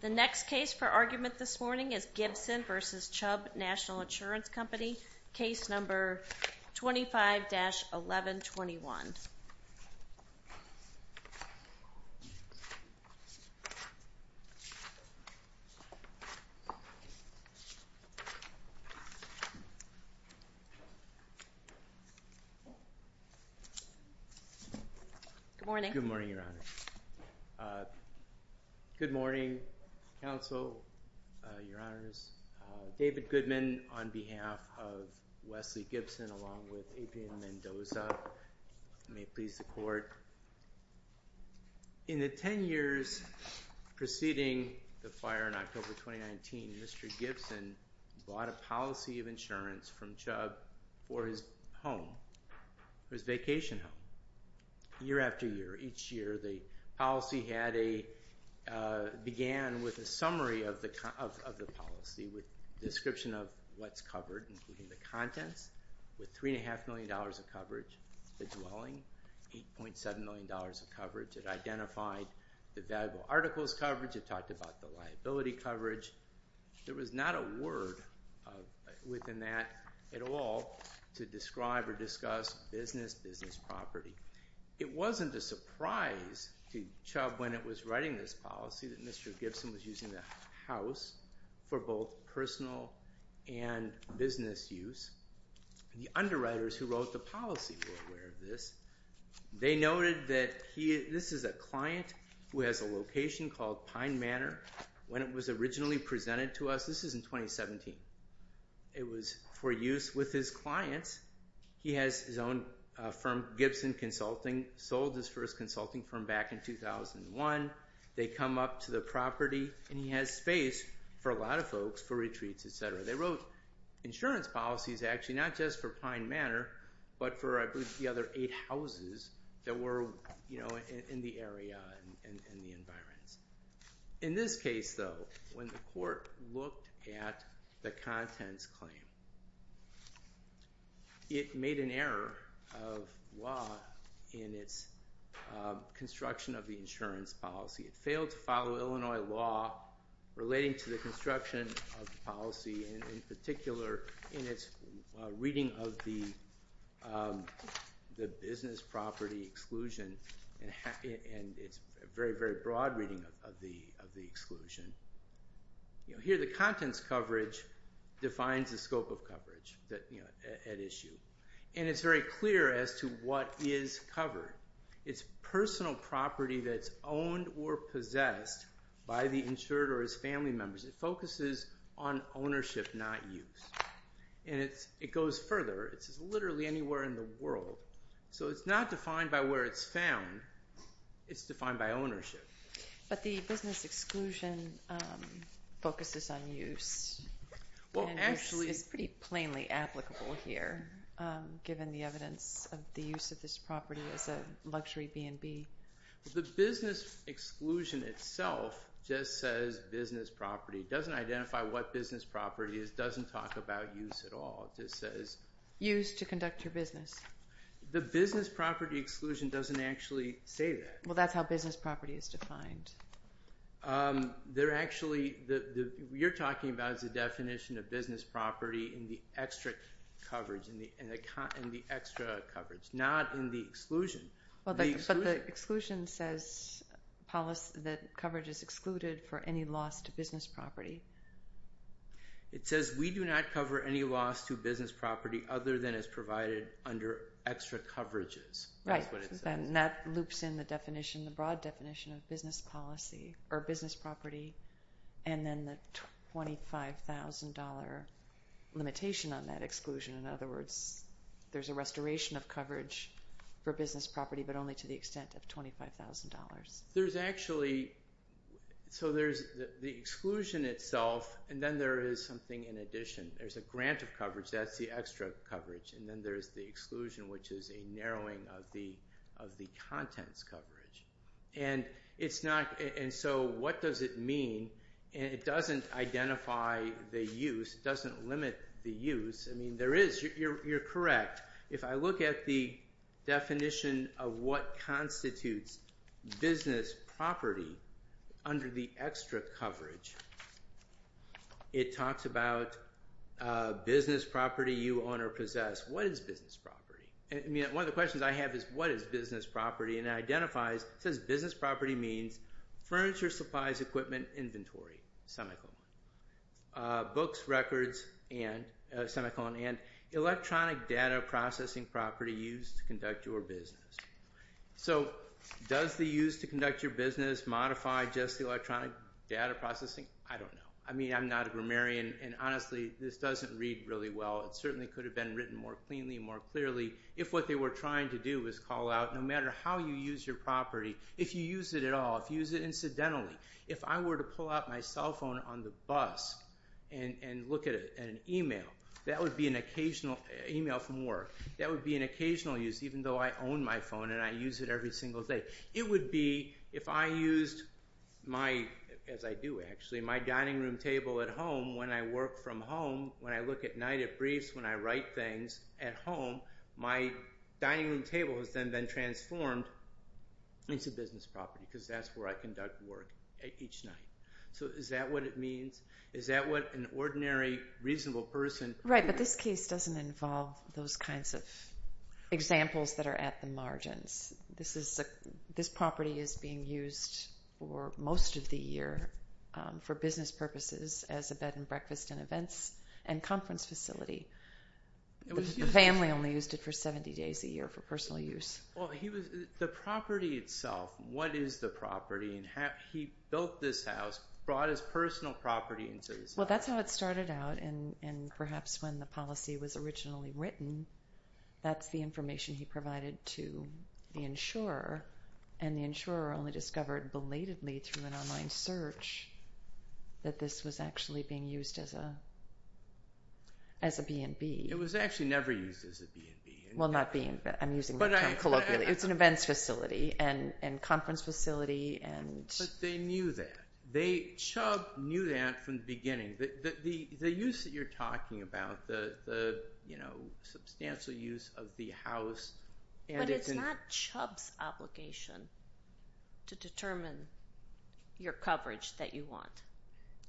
The next case for argument this morning is Gibson v. Chubb National Insurance Company, case number 25-1121. Good morning, Your Honor. Good morning, Counsel, Your Honors. David Goodman on behalf of Wesley In the ten years preceding the fire in October 2019, Mr. Gibson bought a policy of insurance from Chubb for his home, for his vacation home. Year after year, each year, the policy began with a summary of the policy with a description of what's covered, including the contents, with $3.5 million of coverage. The dwelling, $8.7 million of coverage. It identified the valuable articles coverage. It talked about the liability coverage. There was not a word within that at all to describe or discuss business, business property. It wasn't a surprise to Chubb when it was writing this policy that Mr. Gibson was using the house for both personal and business use. The underwriters who wrote the policy were aware of this. They noted that this is a client who has a location called Pine Manor. When it was originally presented to us, this is in 2017, it was for use with his clients. He has his own firm, Gibson Consulting, sold his first consulting firm back in 2001. They come up to the property and he has space for a lot of folks for retreats, etc. They wrote insurance policies, actually, not just for Pine Manor, but for I believe the other eight houses that were in the area and the environs. In this case, though, when the court looked at the contents claim, it made an error of law in its construction of the insurance policy. It failed to follow Illinois law relating to the construction of the policy. In particular, in its reading of the business property exclusion and its very, very broad reading of the exclusion, here the contents coverage defines the scope of coverage at issue. It's very clear as to what is covered. It's personal property that's owned or possessed by the insured or his family members. It focuses on ownership, not use. It goes further. It's literally anywhere in the world. It's not defined by where it's found. It's defined by ownership. But the business exclusion focuses on use. It's pretty plainly applicable here given the evidence of the use of this property as a luxury B&B. The business exclusion itself just says business property. It doesn't identify what business property is. It doesn't talk about use at all. It just says use to conduct your business. The business property exclusion doesn't actually say that. Well, that's how business property is defined. You're talking about the definition of business property in the extra coverage, not in the exclusion. But the exclusion says that coverage is excluded for any loss to business property. It says we do not cover any loss to business property other than it's provided under extra coverages. Right, and that loops in the broad definition of business property and then the $25,000 limitation on that exclusion. In other words, there's a restoration of coverage for business property but only to the extent of $25,000. So there's the exclusion itself and then there is something in addition. There's a grant of coverage. That's the extra coverage. And then there's the exclusion, which is a narrowing of the contents coverage. And so what does it mean? It doesn't identify the use. It doesn't limit the use. I mean, there is. You're correct. If I look at the definition of what constitutes business property under the extra coverage, it talks about business property you own or possess. What is business property? I mean, one of the questions I have is what is business property? And it identifies, it says business property means furniture, supplies, equipment, inventory, semicolon, books, records, semicolon, and electronic data processing property used to conduct your business. So does the use to conduct your business modify just the electronic data processing? I don't know. I mean, I'm not a grammarian, and honestly, this doesn't read really well. It certainly could have been written more cleanly and more clearly if what they were trying to do was call out, no matter how you use your property, if you use it at all, if you use it incidentally, if I were to pull out my cell phone on the bus and look at an email, that would be an occasional email from work. That would be an occasional use, even though I own my phone and I use it every single day. It would be if I used my, as I do actually, my dining room table at home when I work from home, when I look at night at briefs, when I write things at home, my dining room table has then been transformed into business property because that's where I conduct work each night. So is that what it means? Is that what an ordinary, reasonable person? Right, but this case doesn't involve those kinds of examples that are at the margins. This property is being used for most of the year for business purposes as a bed and breakfast and events and conference facility. The family only used it for 70 days a year for personal use. Well, the property itself, what is the property? He built this house, brought his personal property into this house. Well, that's how it started out, and perhaps when the policy was originally written, that's the information he provided to the insurer, and the insurer only discovered belatedly through an online search that this was actually being used as a B&B. It was actually never used as a B&B. Well, not being, I'm using that term colloquially. It's an events facility and conference facility. But they knew that. Chubb knew that from the beginning. The use that you're talking about, the substantial use of the house. But it's not Chubb's obligation to determine your coverage that you want.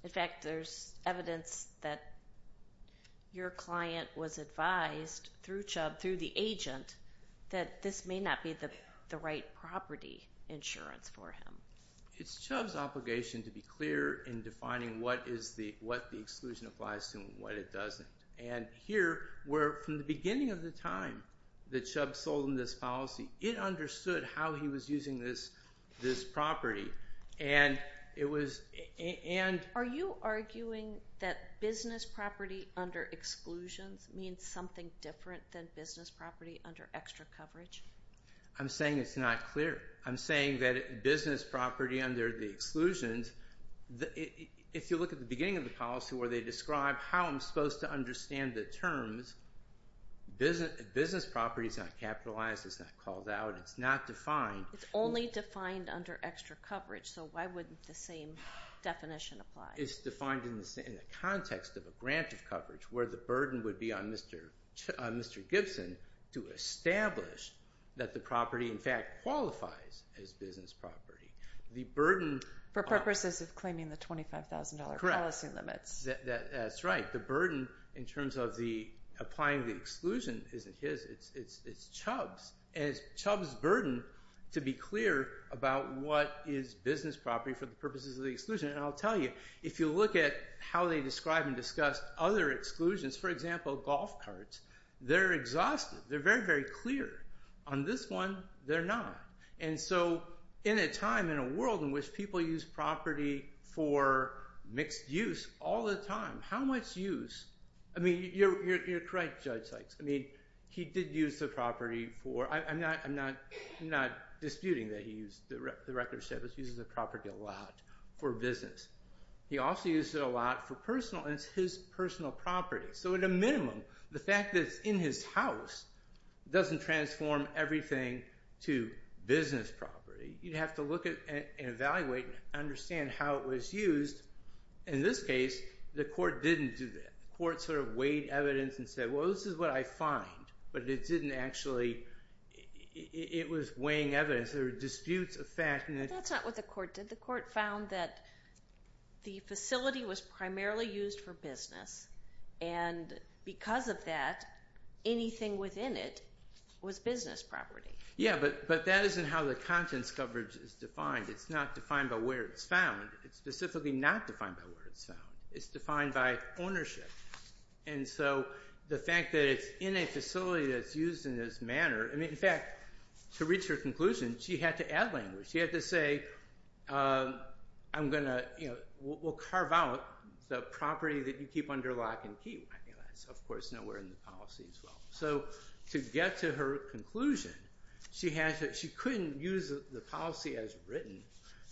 In fact, there's evidence that your client was advised through Chubb, through the agent, that this may not be the right property insurance for him. It's Chubb's obligation to be clear in defining what the exclusion applies to and what it doesn't. And here, where from the beginning of the time that Chubb sold him this policy, it understood how he was using this property. Are you arguing that business property under exclusions means something different than business property under extra coverage? I'm saying it's not clear. I'm saying that business property under the exclusions, if you look at the beginning of the policy where they describe how I'm supposed to understand the terms, business property is not capitalized. It's not called out. It's not defined. It's only defined under extra coverage. So why wouldn't the same definition apply? It's defined in the context of a grant of coverage, where the burden would be on Mr. Gibson to establish that the property, in fact, qualifies as business property. For purposes of claiming the $25,000 policy limits. That's right. The burden in terms of applying the exclusion isn't his. It's Chubb's. And it's Chubb's burden to be clear about what is business property for the purposes of the exclusion. And I'll tell you, if you look at how they describe and discuss other exclusions, for example, golf carts, they're exhausted. They're very, very clear. On this one, they're not. And so in a time, in a world in which people use property for mixed use all the time, how much use – I mean, you're correct, Judge Sykes. I mean, he did use the property for – I'm not disputing that he used – the record says he uses the property a lot for business. He also uses it a lot for personal, and it's his personal property. So at a minimum, the fact that it's in his house doesn't transform everything to business property. You'd have to look at and evaluate and understand how it was used. In this case, the court didn't do that. The court sort of weighed evidence and said, well, this is what I find. But it didn't actually – it was weighing evidence. There were disputes of fact. That's not what the court did. The court found that the facility was primarily used for business, and because of that, anything within it was business property. Yeah, but that isn't how the contents coverage is defined. It's not defined by where it's found. It's specifically not defined by where it's found. It's defined by ownership. And so the fact that it's in a facility that's used in this manner – in fact, to reach her conclusion, she had to add language. She had to say, I'm going to – we'll carve out the property that you keep under lock and key. That's, of course, nowhere in the policy as well. So to get to her conclusion, she couldn't use the policy as written.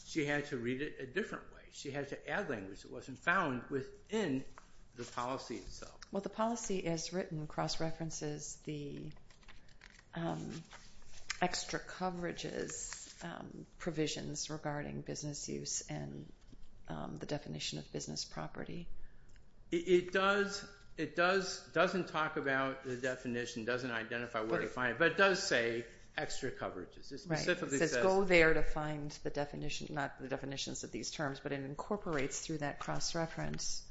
She had to read it a different way. She had to add language that wasn't found within the policy itself. Well, the policy as written cross-references the extra coverages provisions regarding business use and the definition of business property. It does – it doesn't talk about the definition, doesn't identify where to find it, but it does say extra coverages. It specifically says – It says go there to find the definition – not the definitions of these terms, but it incorporates through that cross-reference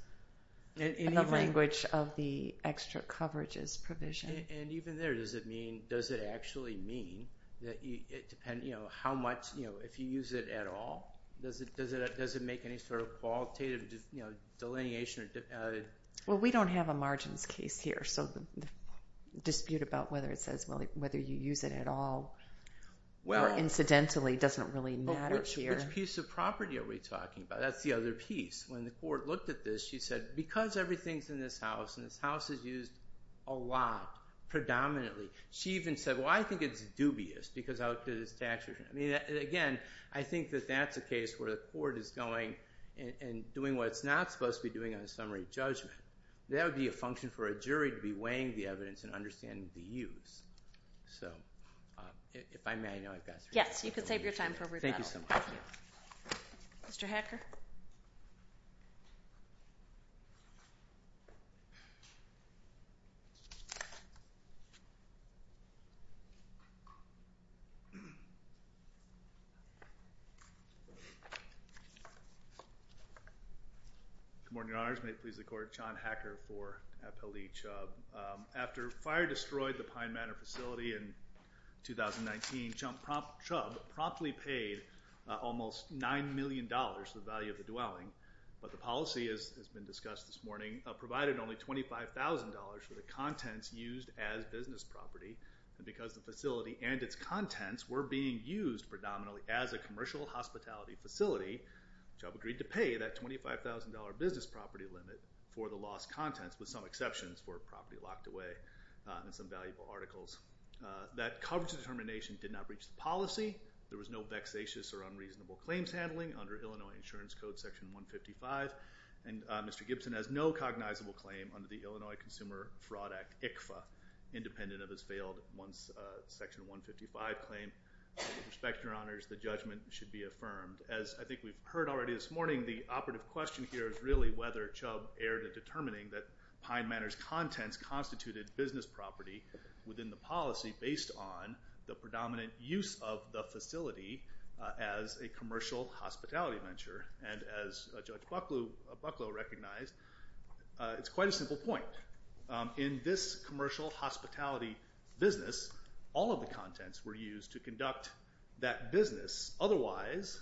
the language of the extra coverages provision. And even there, does it mean – does it actually mean that it – how much – if you use it at all, does it make any sort of qualitative delineation? Well, we don't have a margins case here, so the dispute about whether it says whether you use it at all or incidentally doesn't really matter here. Which piece of property are we talking about? That's the other piece. When the court looked at this, she said, because everything's in this house and this house is used a lot, predominantly, she even said, well, I think it's dubious because of how it's taxed. I mean, again, I think that that's a case where the court is going and doing what it's not supposed to be doing on a summary judgment. That would be a function for a jury to be weighing the evidence and understanding the use. So if I may, I know I've got three minutes. Yes, you can save your time for rebuttal. Mr. Hacker. Good morning, Your Honors. May it please the Court, John Hacker for Appellee Chubb. After fire destroyed the Pine Manor facility in 2019, Chubb promptly paid almost $9 million, the value of the dwelling. But the policy, as has been discussed this morning, provided only $25,000 for the contents used as business property. And because the facility and its contents were being used predominantly as a commercial hospitality facility, Chubb agreed to pay that $25,000 business property limit for the lost contents, with some exceptions for property locked away and some valuable articles. That coverage determination did not breach the policy. There was no vexatious or unreasonable claims handling under Illinois Insurance Code, Section 155. And Mr. Gibson has no cognizable claim under the Illinois Consumer Fraud Act, ICFA, independent of his failed once Section 155 claim. With respect, Your Honors, the judgment should be affirmed. As I think we've heard already this morning, the operative question here is really whether Chubb erred in determining that Pine Manor's contents constituted business property within the policy based on the predominant use of the facility as a commercial hospitality venture. And as Judge Bucklow recognized, it's quite a simple point. In this commercial hospitality business, all of the contents were used to conduct that business. Otherwise,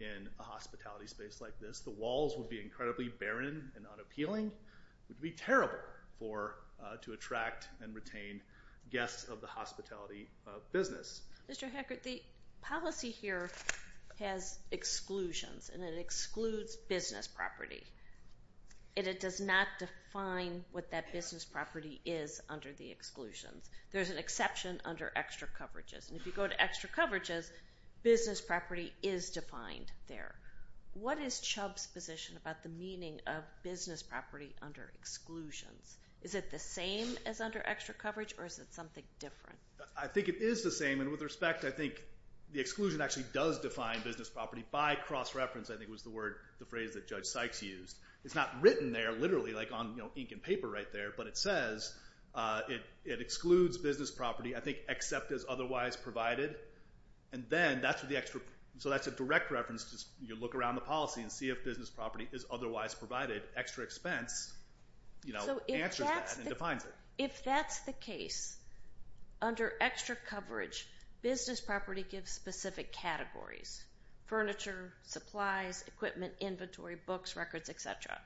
in a hospitality space like this, the walls would be incredibly barren and unappealing. It would be terrible to attract and retain guests of the hospitality business. Mr. Hackert, the policy here has exclusions, and it excludes business property. It does not define what that business property is under the exclusions. There's an exception under extra coverages. And if you go to extra coverages, business property is defined there. What is Chubb's position about the meaning of business property under exclusions? Is it the same as under extra coverage, or is it something different? I think it is the same. And with respect, I think the exclusion actually does define business property by cross-reference, I think was the phrase that Judge Sykes used. It's not written there literally like on ink and paper right there, but it says it excludes business property, I think, except as otherwise provided. So that's a direct reference. You look around the policy and see if business property is otherwise provided. Extra expense answers that and defines it. If that's the case, under extra coverage, business property gives specific categories, furniture, supplies, equipment, inventory, books, records, et cetera.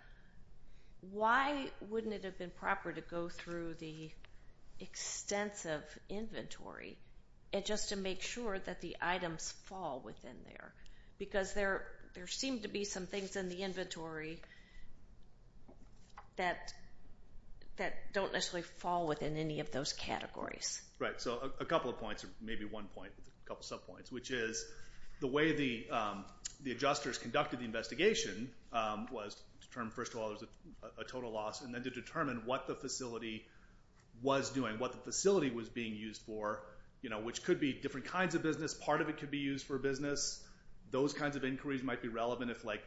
Why wouldn't it have been proper to go through the extensive inventory just to make sure that the items fall within there? Because there seem to be some things in the inventory that don't necessarily fall within any of those categories. Right, so a couple of points, or maybe one point, a couple subpoints, which is the way the adjusters conducted the investigation was to determine, first of all, there's a total loss, and then to determine what the facility was doing, what the facility was being used for, which could be different kinds of business. Part of it could be used for business. Those kinds of inquiries might be relevant if, like,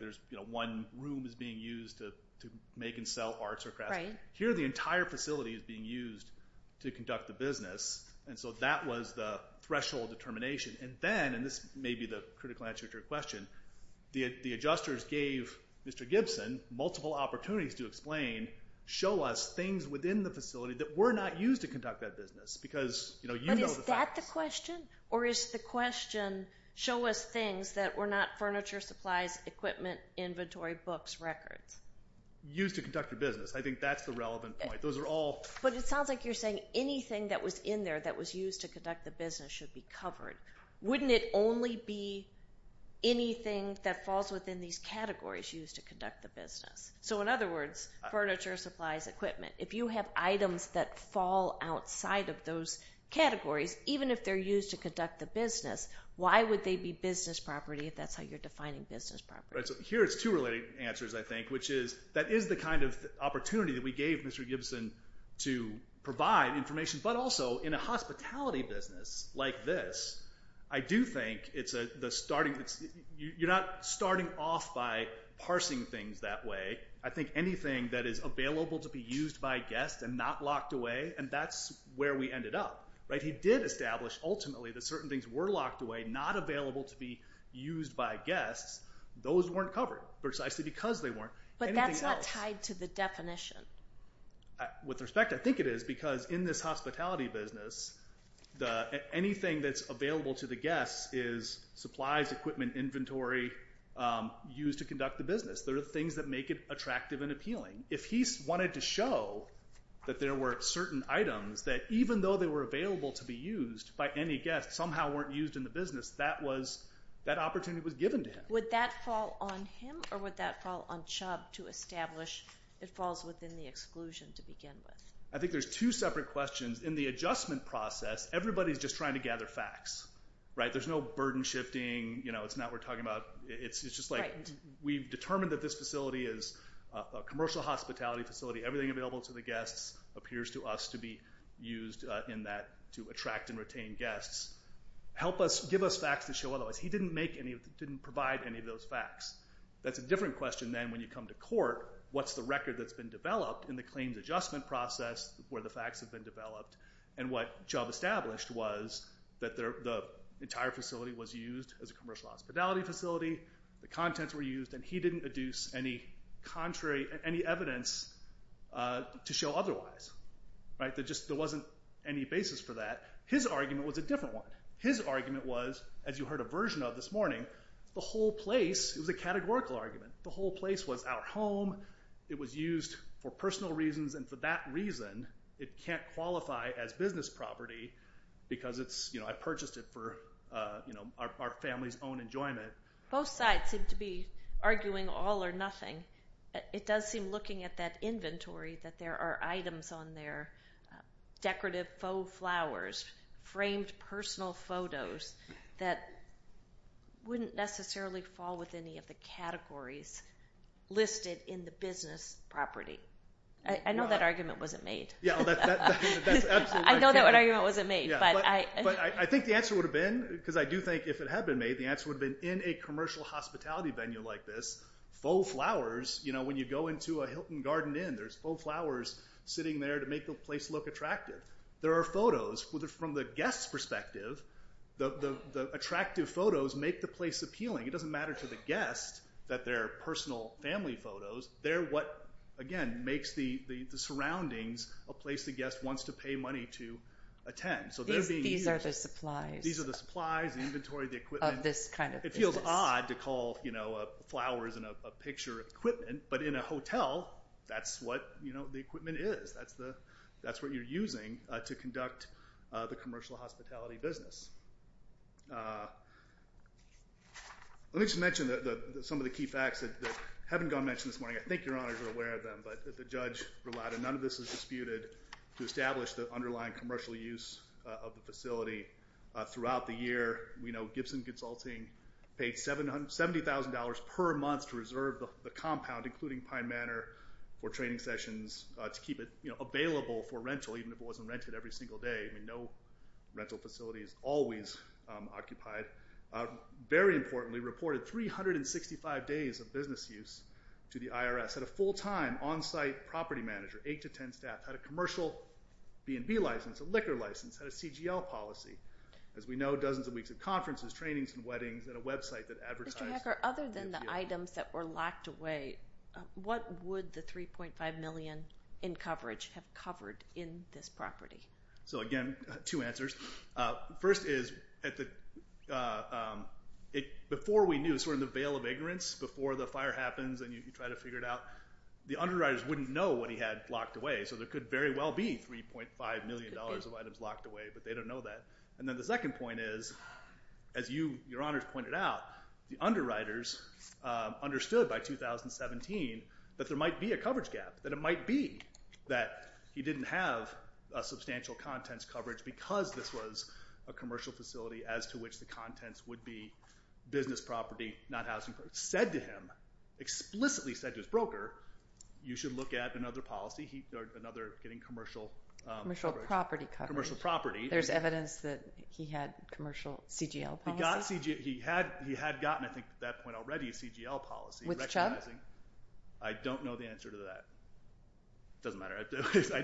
one room is being used to make and sell arts or crafts. Here the entire facility is being used to conduct the business, and so that was the threshold determination. And then, and this may be the critical answer to your question, the adjusters gave Mr. Gibson multiple opportunities to explain, show us things within the facility that were not used to conduct that business because, you know, you know the facts. But is that the question, or is the question, show us things that were not furniture, supplies, equipment, inventory, books, records? Used to conduct the business. I think that's the relevant point. Those are all. But it sounds like you're saying anything that was in there that was used to conduct the business should be covered. Wouldn't it only be anything that falls within these categories used to conduct the business? So, in other words, furniture, supplies, equipment. If you have items that fall outside of those categories, even if they're used to conduct the business, why would they be business property if that's how you're defining business property? Right. So here it's two related answers, I think, which is that is the kind of opportunity that we gave Mr. Gibson to provide information. But also in a hospitality business like this, I do think it's the starting. You're not starting off by parsing things that way. I think anything that is available to be used by guests and not locked away, and that's where we ended up. He did establish, ultimately, that certain things were locked away, not available to be used by guests. Those weren't covered precisely because they weren't. But that's not tied to the definition. With respect, I think it is because in this hospitality business, anything that's available to the guests is supplies, equipment, inventory used to conduct the business. There are things that make it attractive and appealing. If he wanted to show that there were certain items that, even though they were available to be used by any guest, somehow weren't used in the business, that opportunity was given to him. Would that fall on him, or would that fall on Chubb, to establish it falls within the exclusion to begin with? I think there's two separate questions. In the adjustment process, everybody's just trying to gather facts. There's no burden shifting. It's not we're talking about. It's just like we've determined that this facility is a commercial hospitality facility. Everything available to the guests appears to us to be used in that, to attract and retain guests. Give us facts that show otherwise. He didn't provide any of those facts. That's a different question then when you come to court. What's the record that's been developed in the claims adjustment process where the facts have been developed, and what Chubb established was that the entire facility was used as a commercial hospitality facility, the contents were used, and he didn't adduce any evidence to show otherwise. There wasn't any basis for that. His argument was a different one. His argument was, as you heard a version of this morning, the whole place was a categorical argument. The whole place was our home. It was used for personal reasons, and for that reason it can't qualify as business property because I purchased it for our family's own enjoyment. Both sides seem to be arguing all or nothing. It does seem, looking at that inventory, that there are items on there, decorative faux flowers, framed personal photos that wouldn't necessarily fall with any of the categories listed in the business property. I know that argument wasn't made. I know that argument wasn't made. But I think the answer would have been, because I do think if it had been made, the answer would have been in a commercial hospitality venue like this, faux flowers, you know, when you go into a Hilton Garden Inn, there's faux flowers sitting there to make the place look attractive. There are photos. From the guest's perspective, the attractive photos make the place appealing. It doesn't matter to the guest that they're personal family photos. They're what, again, makes the surroundings a place the guest wants to pay money to attend. These are the supplies. These are the supplies, the inventory, the equipment. Of this kind of business. It feels odd to call flowers and a picture equipment, but in a hotel that's what the equipment is. That's what you're using to conduct the commercial hospitality business. Let me just mention some of the key facts that haven't gone mentioned this morning. I think Your Honors are aware of them, but the judge relied, and none of this is disputed, to establish the underlying commercial use of the facility throughout the year. We know Gibson Consulting paid $70,000 per month to reserve the compound, including Pine Manor, for training sessions to keep it available for rental, even if it wasn't rented every single day. I mean, no rental facility is always occupied. Very importantly, reported 365 days of business use to the IRS. Had a full-time on-site property manager, 8 to 10 staff. Had a commercial B&B license, a liquor license, had a CGL policy. As we know, dozens of weeks of conferences, trainings, and weddings, and a website that advertised. Mr. Hecker, other than the items that were locked away, what would the $3.5 million in coverage have covered in this property? So, again, two answers. First is, before we knew, sort of in the veil of ignorance, before the fire happens and you try to figure it out, the underwriters wouldn't know what he had locked away. So there could very well be $3.5 million of items locked away, but they don't know that. And then the second point is, as Your Honors pointed out, the underwriters understood by 2017 that there might be a coverage gap, that it might be that he didn't have a substantial contents coverage because this was a commercial facility as to which the contents would be business property, not housing. Said to him, explicitly said to his broker, you should look at another policy, another getting commercial coverage. Commercial property coverage. Commercial property. There's evidence that he had commercial CGL policy? He had gotten, I think, at that point already, a CGL policy. With Chubb? I don't know the answer to that. It doesn't matter.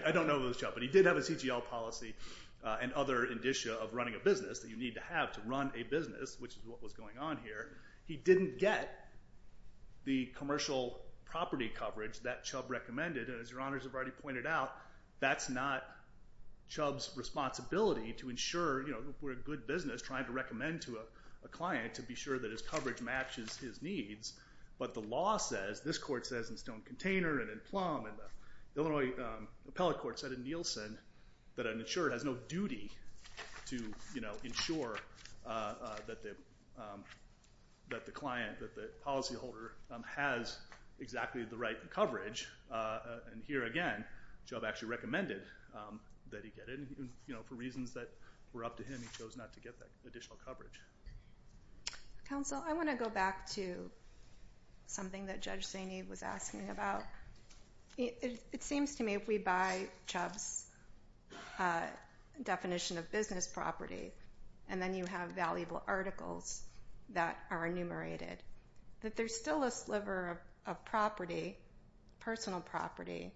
I don't know if it was Chubb, but he did have a CGL policy. And other indicia of running a business that you need to have to run a business, which is what was going on here. He didn't get the commercial property coverage that Chubb recommended. And as Your Honors have already pointed out, that's not Chubb's responsibility to ensure, you know, we're a good business trying to recommend to a client to be sure that his coverage matches his needs. But the law says, this court says in Stone Container and in Plum, and the Illinois Appellate Court said in Nielsen, that an insurer has no duty to, you know, ensure that the client, that the policyholder, has exactly the right coverage. And here again, Chubb actually recommended that he get it. You know, for reasons that were up to him, he chose not to get that additional coverage. Counsel, I want to go back to something that Judge Zaney was asking about. It seems to me if we buy Chubb's definition of business property, and then you have valuable articles that are enumerated, that there's still a sliver of property, personal property,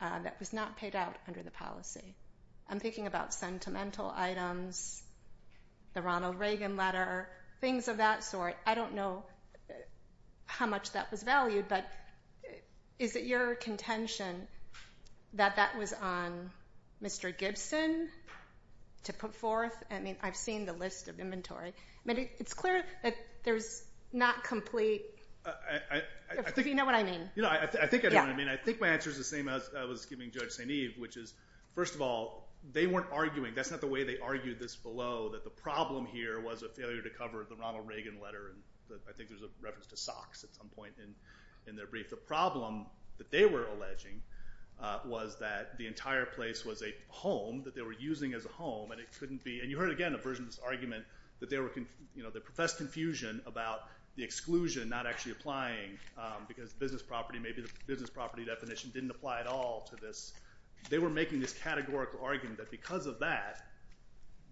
that was not paid out under the policy. I'm thinking about sentimental items, the Ronald Reagan letter, things of that sort. I don't know how much that was valued, but is it your contention that that was on Mr. Gibson to put forth? I mean, I've seen the list of inventory. I mean, it's clear that there's not complete, if you know what I mean. I think I know what I mean. I think my answer is the same as I was giving Judge Zaney, which is, first of all, they weren't arguing. That's not the way they argued this below, that the problem here was a failure to cover the Ronald Reagan letter. I think there's a reference to socks at some point in their brief. The problem that they were alleging was that the entire place was a home that they were using as a home, and it couldn't be. And you heard, again, a version of this argument that they professed confusion about the exclusion not actually applying because business property, maybe the business property definition, didn't apply at all to this. They were making this categorical argument that because of that,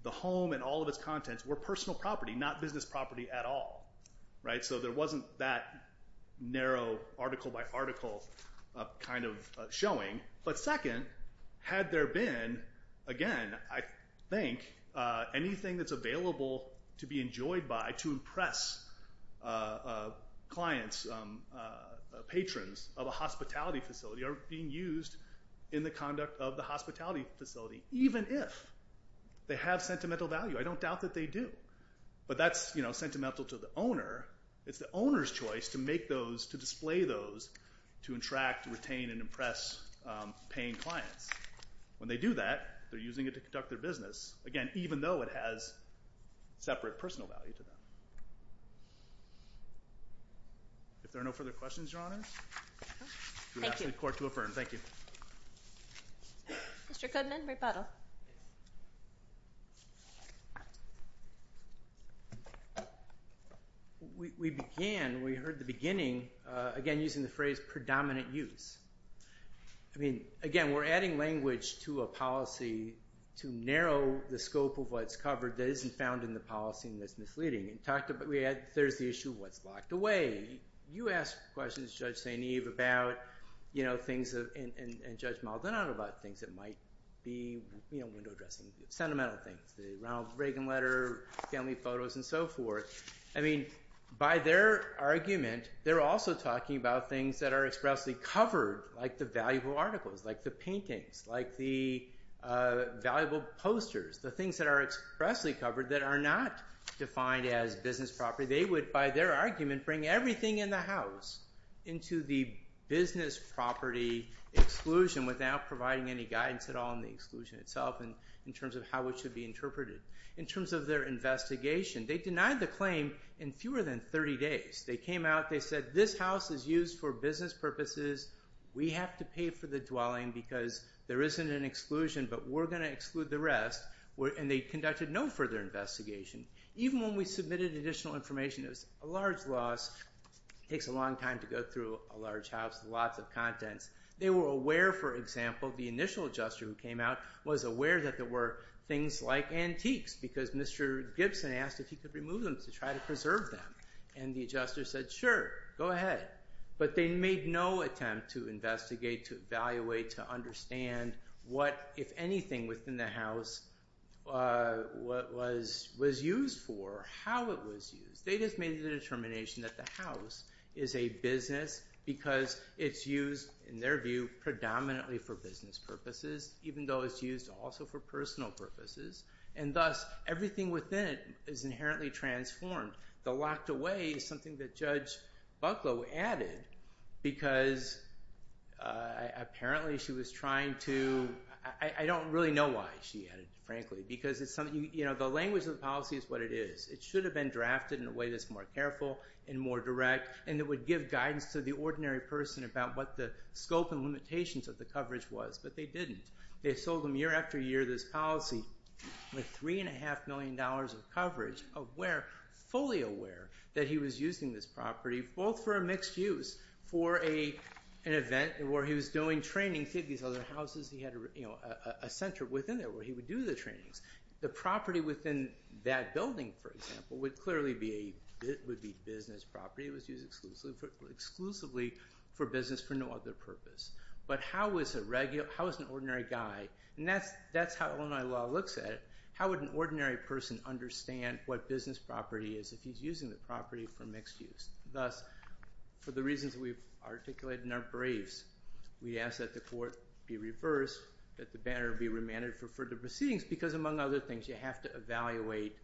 the home and all of its contents were personal property, not business property at all. So there wasn't that narrow article by article kind of showing. But second, had there been, again, I think, anything that's available to be enjoyed by to impress clients, patrons of a hospitality facility, or being used in the conduct of the hospitality facility, even if they have sentimental value, I don't doubt that they do, but that's sentimental to the owner. It's the owner's choice to make those, to display those, to attract, retain, and impress paying clients. When they do that, they're using it to conduct their business, again, even though it has separate personal value to them. If there are no further questions, Your Honors, do I ask the Court to affirm? Thank you. Mr. Goodman, rebuttal. We began, we heard the beginning, again, using the phrase predominant use. I mean, again, we're adding language to a policy to narrow the scope of what's covered that isn't found in the policy and that's misleading. There's the issue of what's locked away. You asked questions, Judge St. Eve, and Judge Maldonado, about things that might be window dressing, sentimental things, the Ronald Reagan letter, family photos, and so forth. I mean, by their argument, they're also talking about things that are expressly covered, like the valuable articles, like the paintings, like the valuable posters, the things that are expressly covered that are not defined as business property. So they would, by their argument, bring everything in the house into the business property exclusion without providing any guidance at all in the exclusion itself in terms of how it should be interpreted. In terms of their investigation, they denied the claim in fewer than 30 days. They came out, they said, this house is used for business purposes, we have to pay for the dwelling because there isn't an exclusion, but we're going to exclude the rest, and they conducted no further investigation. Even when we submitted additional information, it was a large loss. It takes a long time to go through a large house with lots of contents. They were aware, for example, the initial adjuster who came out was aware that there were things like antiques because Mr. Gibson asked if he could remove them to try to preserve them. And the adjuster said, sure, go ahead. But they made no attempt to investigate, to evaluate, to understand what, if anything, within the house was used for, how it was used. They just made the determination that the house is a business because it's used, in their view, predominantly for business purposes, even though it's used also for personal purposes, and thus everything within it is inherently transformed. The locked away is something that Judge Bucklow added because apparently she was trying to... I don't really know why she added it, frankly, because the language of the policy is what it is. It should have been drafted in a way that's more careful and more direct, and it would give guidance to the ordinary person about what the scope and limitations of the coverage was, but they didn't. They sold them year after year this policy with $3.5 million of coverage, fully aware that he was using this property, both for a mixed use, for an event where he was doing training. He had these other houses. He had a center within there where he would do the trainings. The property within that building, for example, would clearly be business property. It was used exclusively for business for no other purpose. But how is an ordinary guy, and that's how Illinois law looks at it, how would an ordinary person understand what business property is if he's using the property for mixed use? Thus, for the reasons we've articulated in our briefs, we ask that the court be reversed, that the banner be remanded for further proceedings because, among other things, you have to evaluate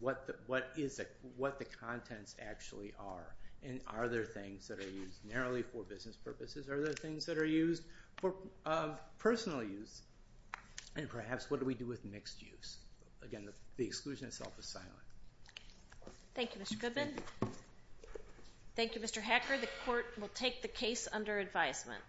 what the contents actually are, and are there things that are used narrowly for business purposes? Are there things that are used for personal use? And perhaps what do we do with mixed use? Again, the exclusion itself is silent. Thank you, Mr. Goodman. Thank you, Mr. Hacker. The court will take the case under advisement.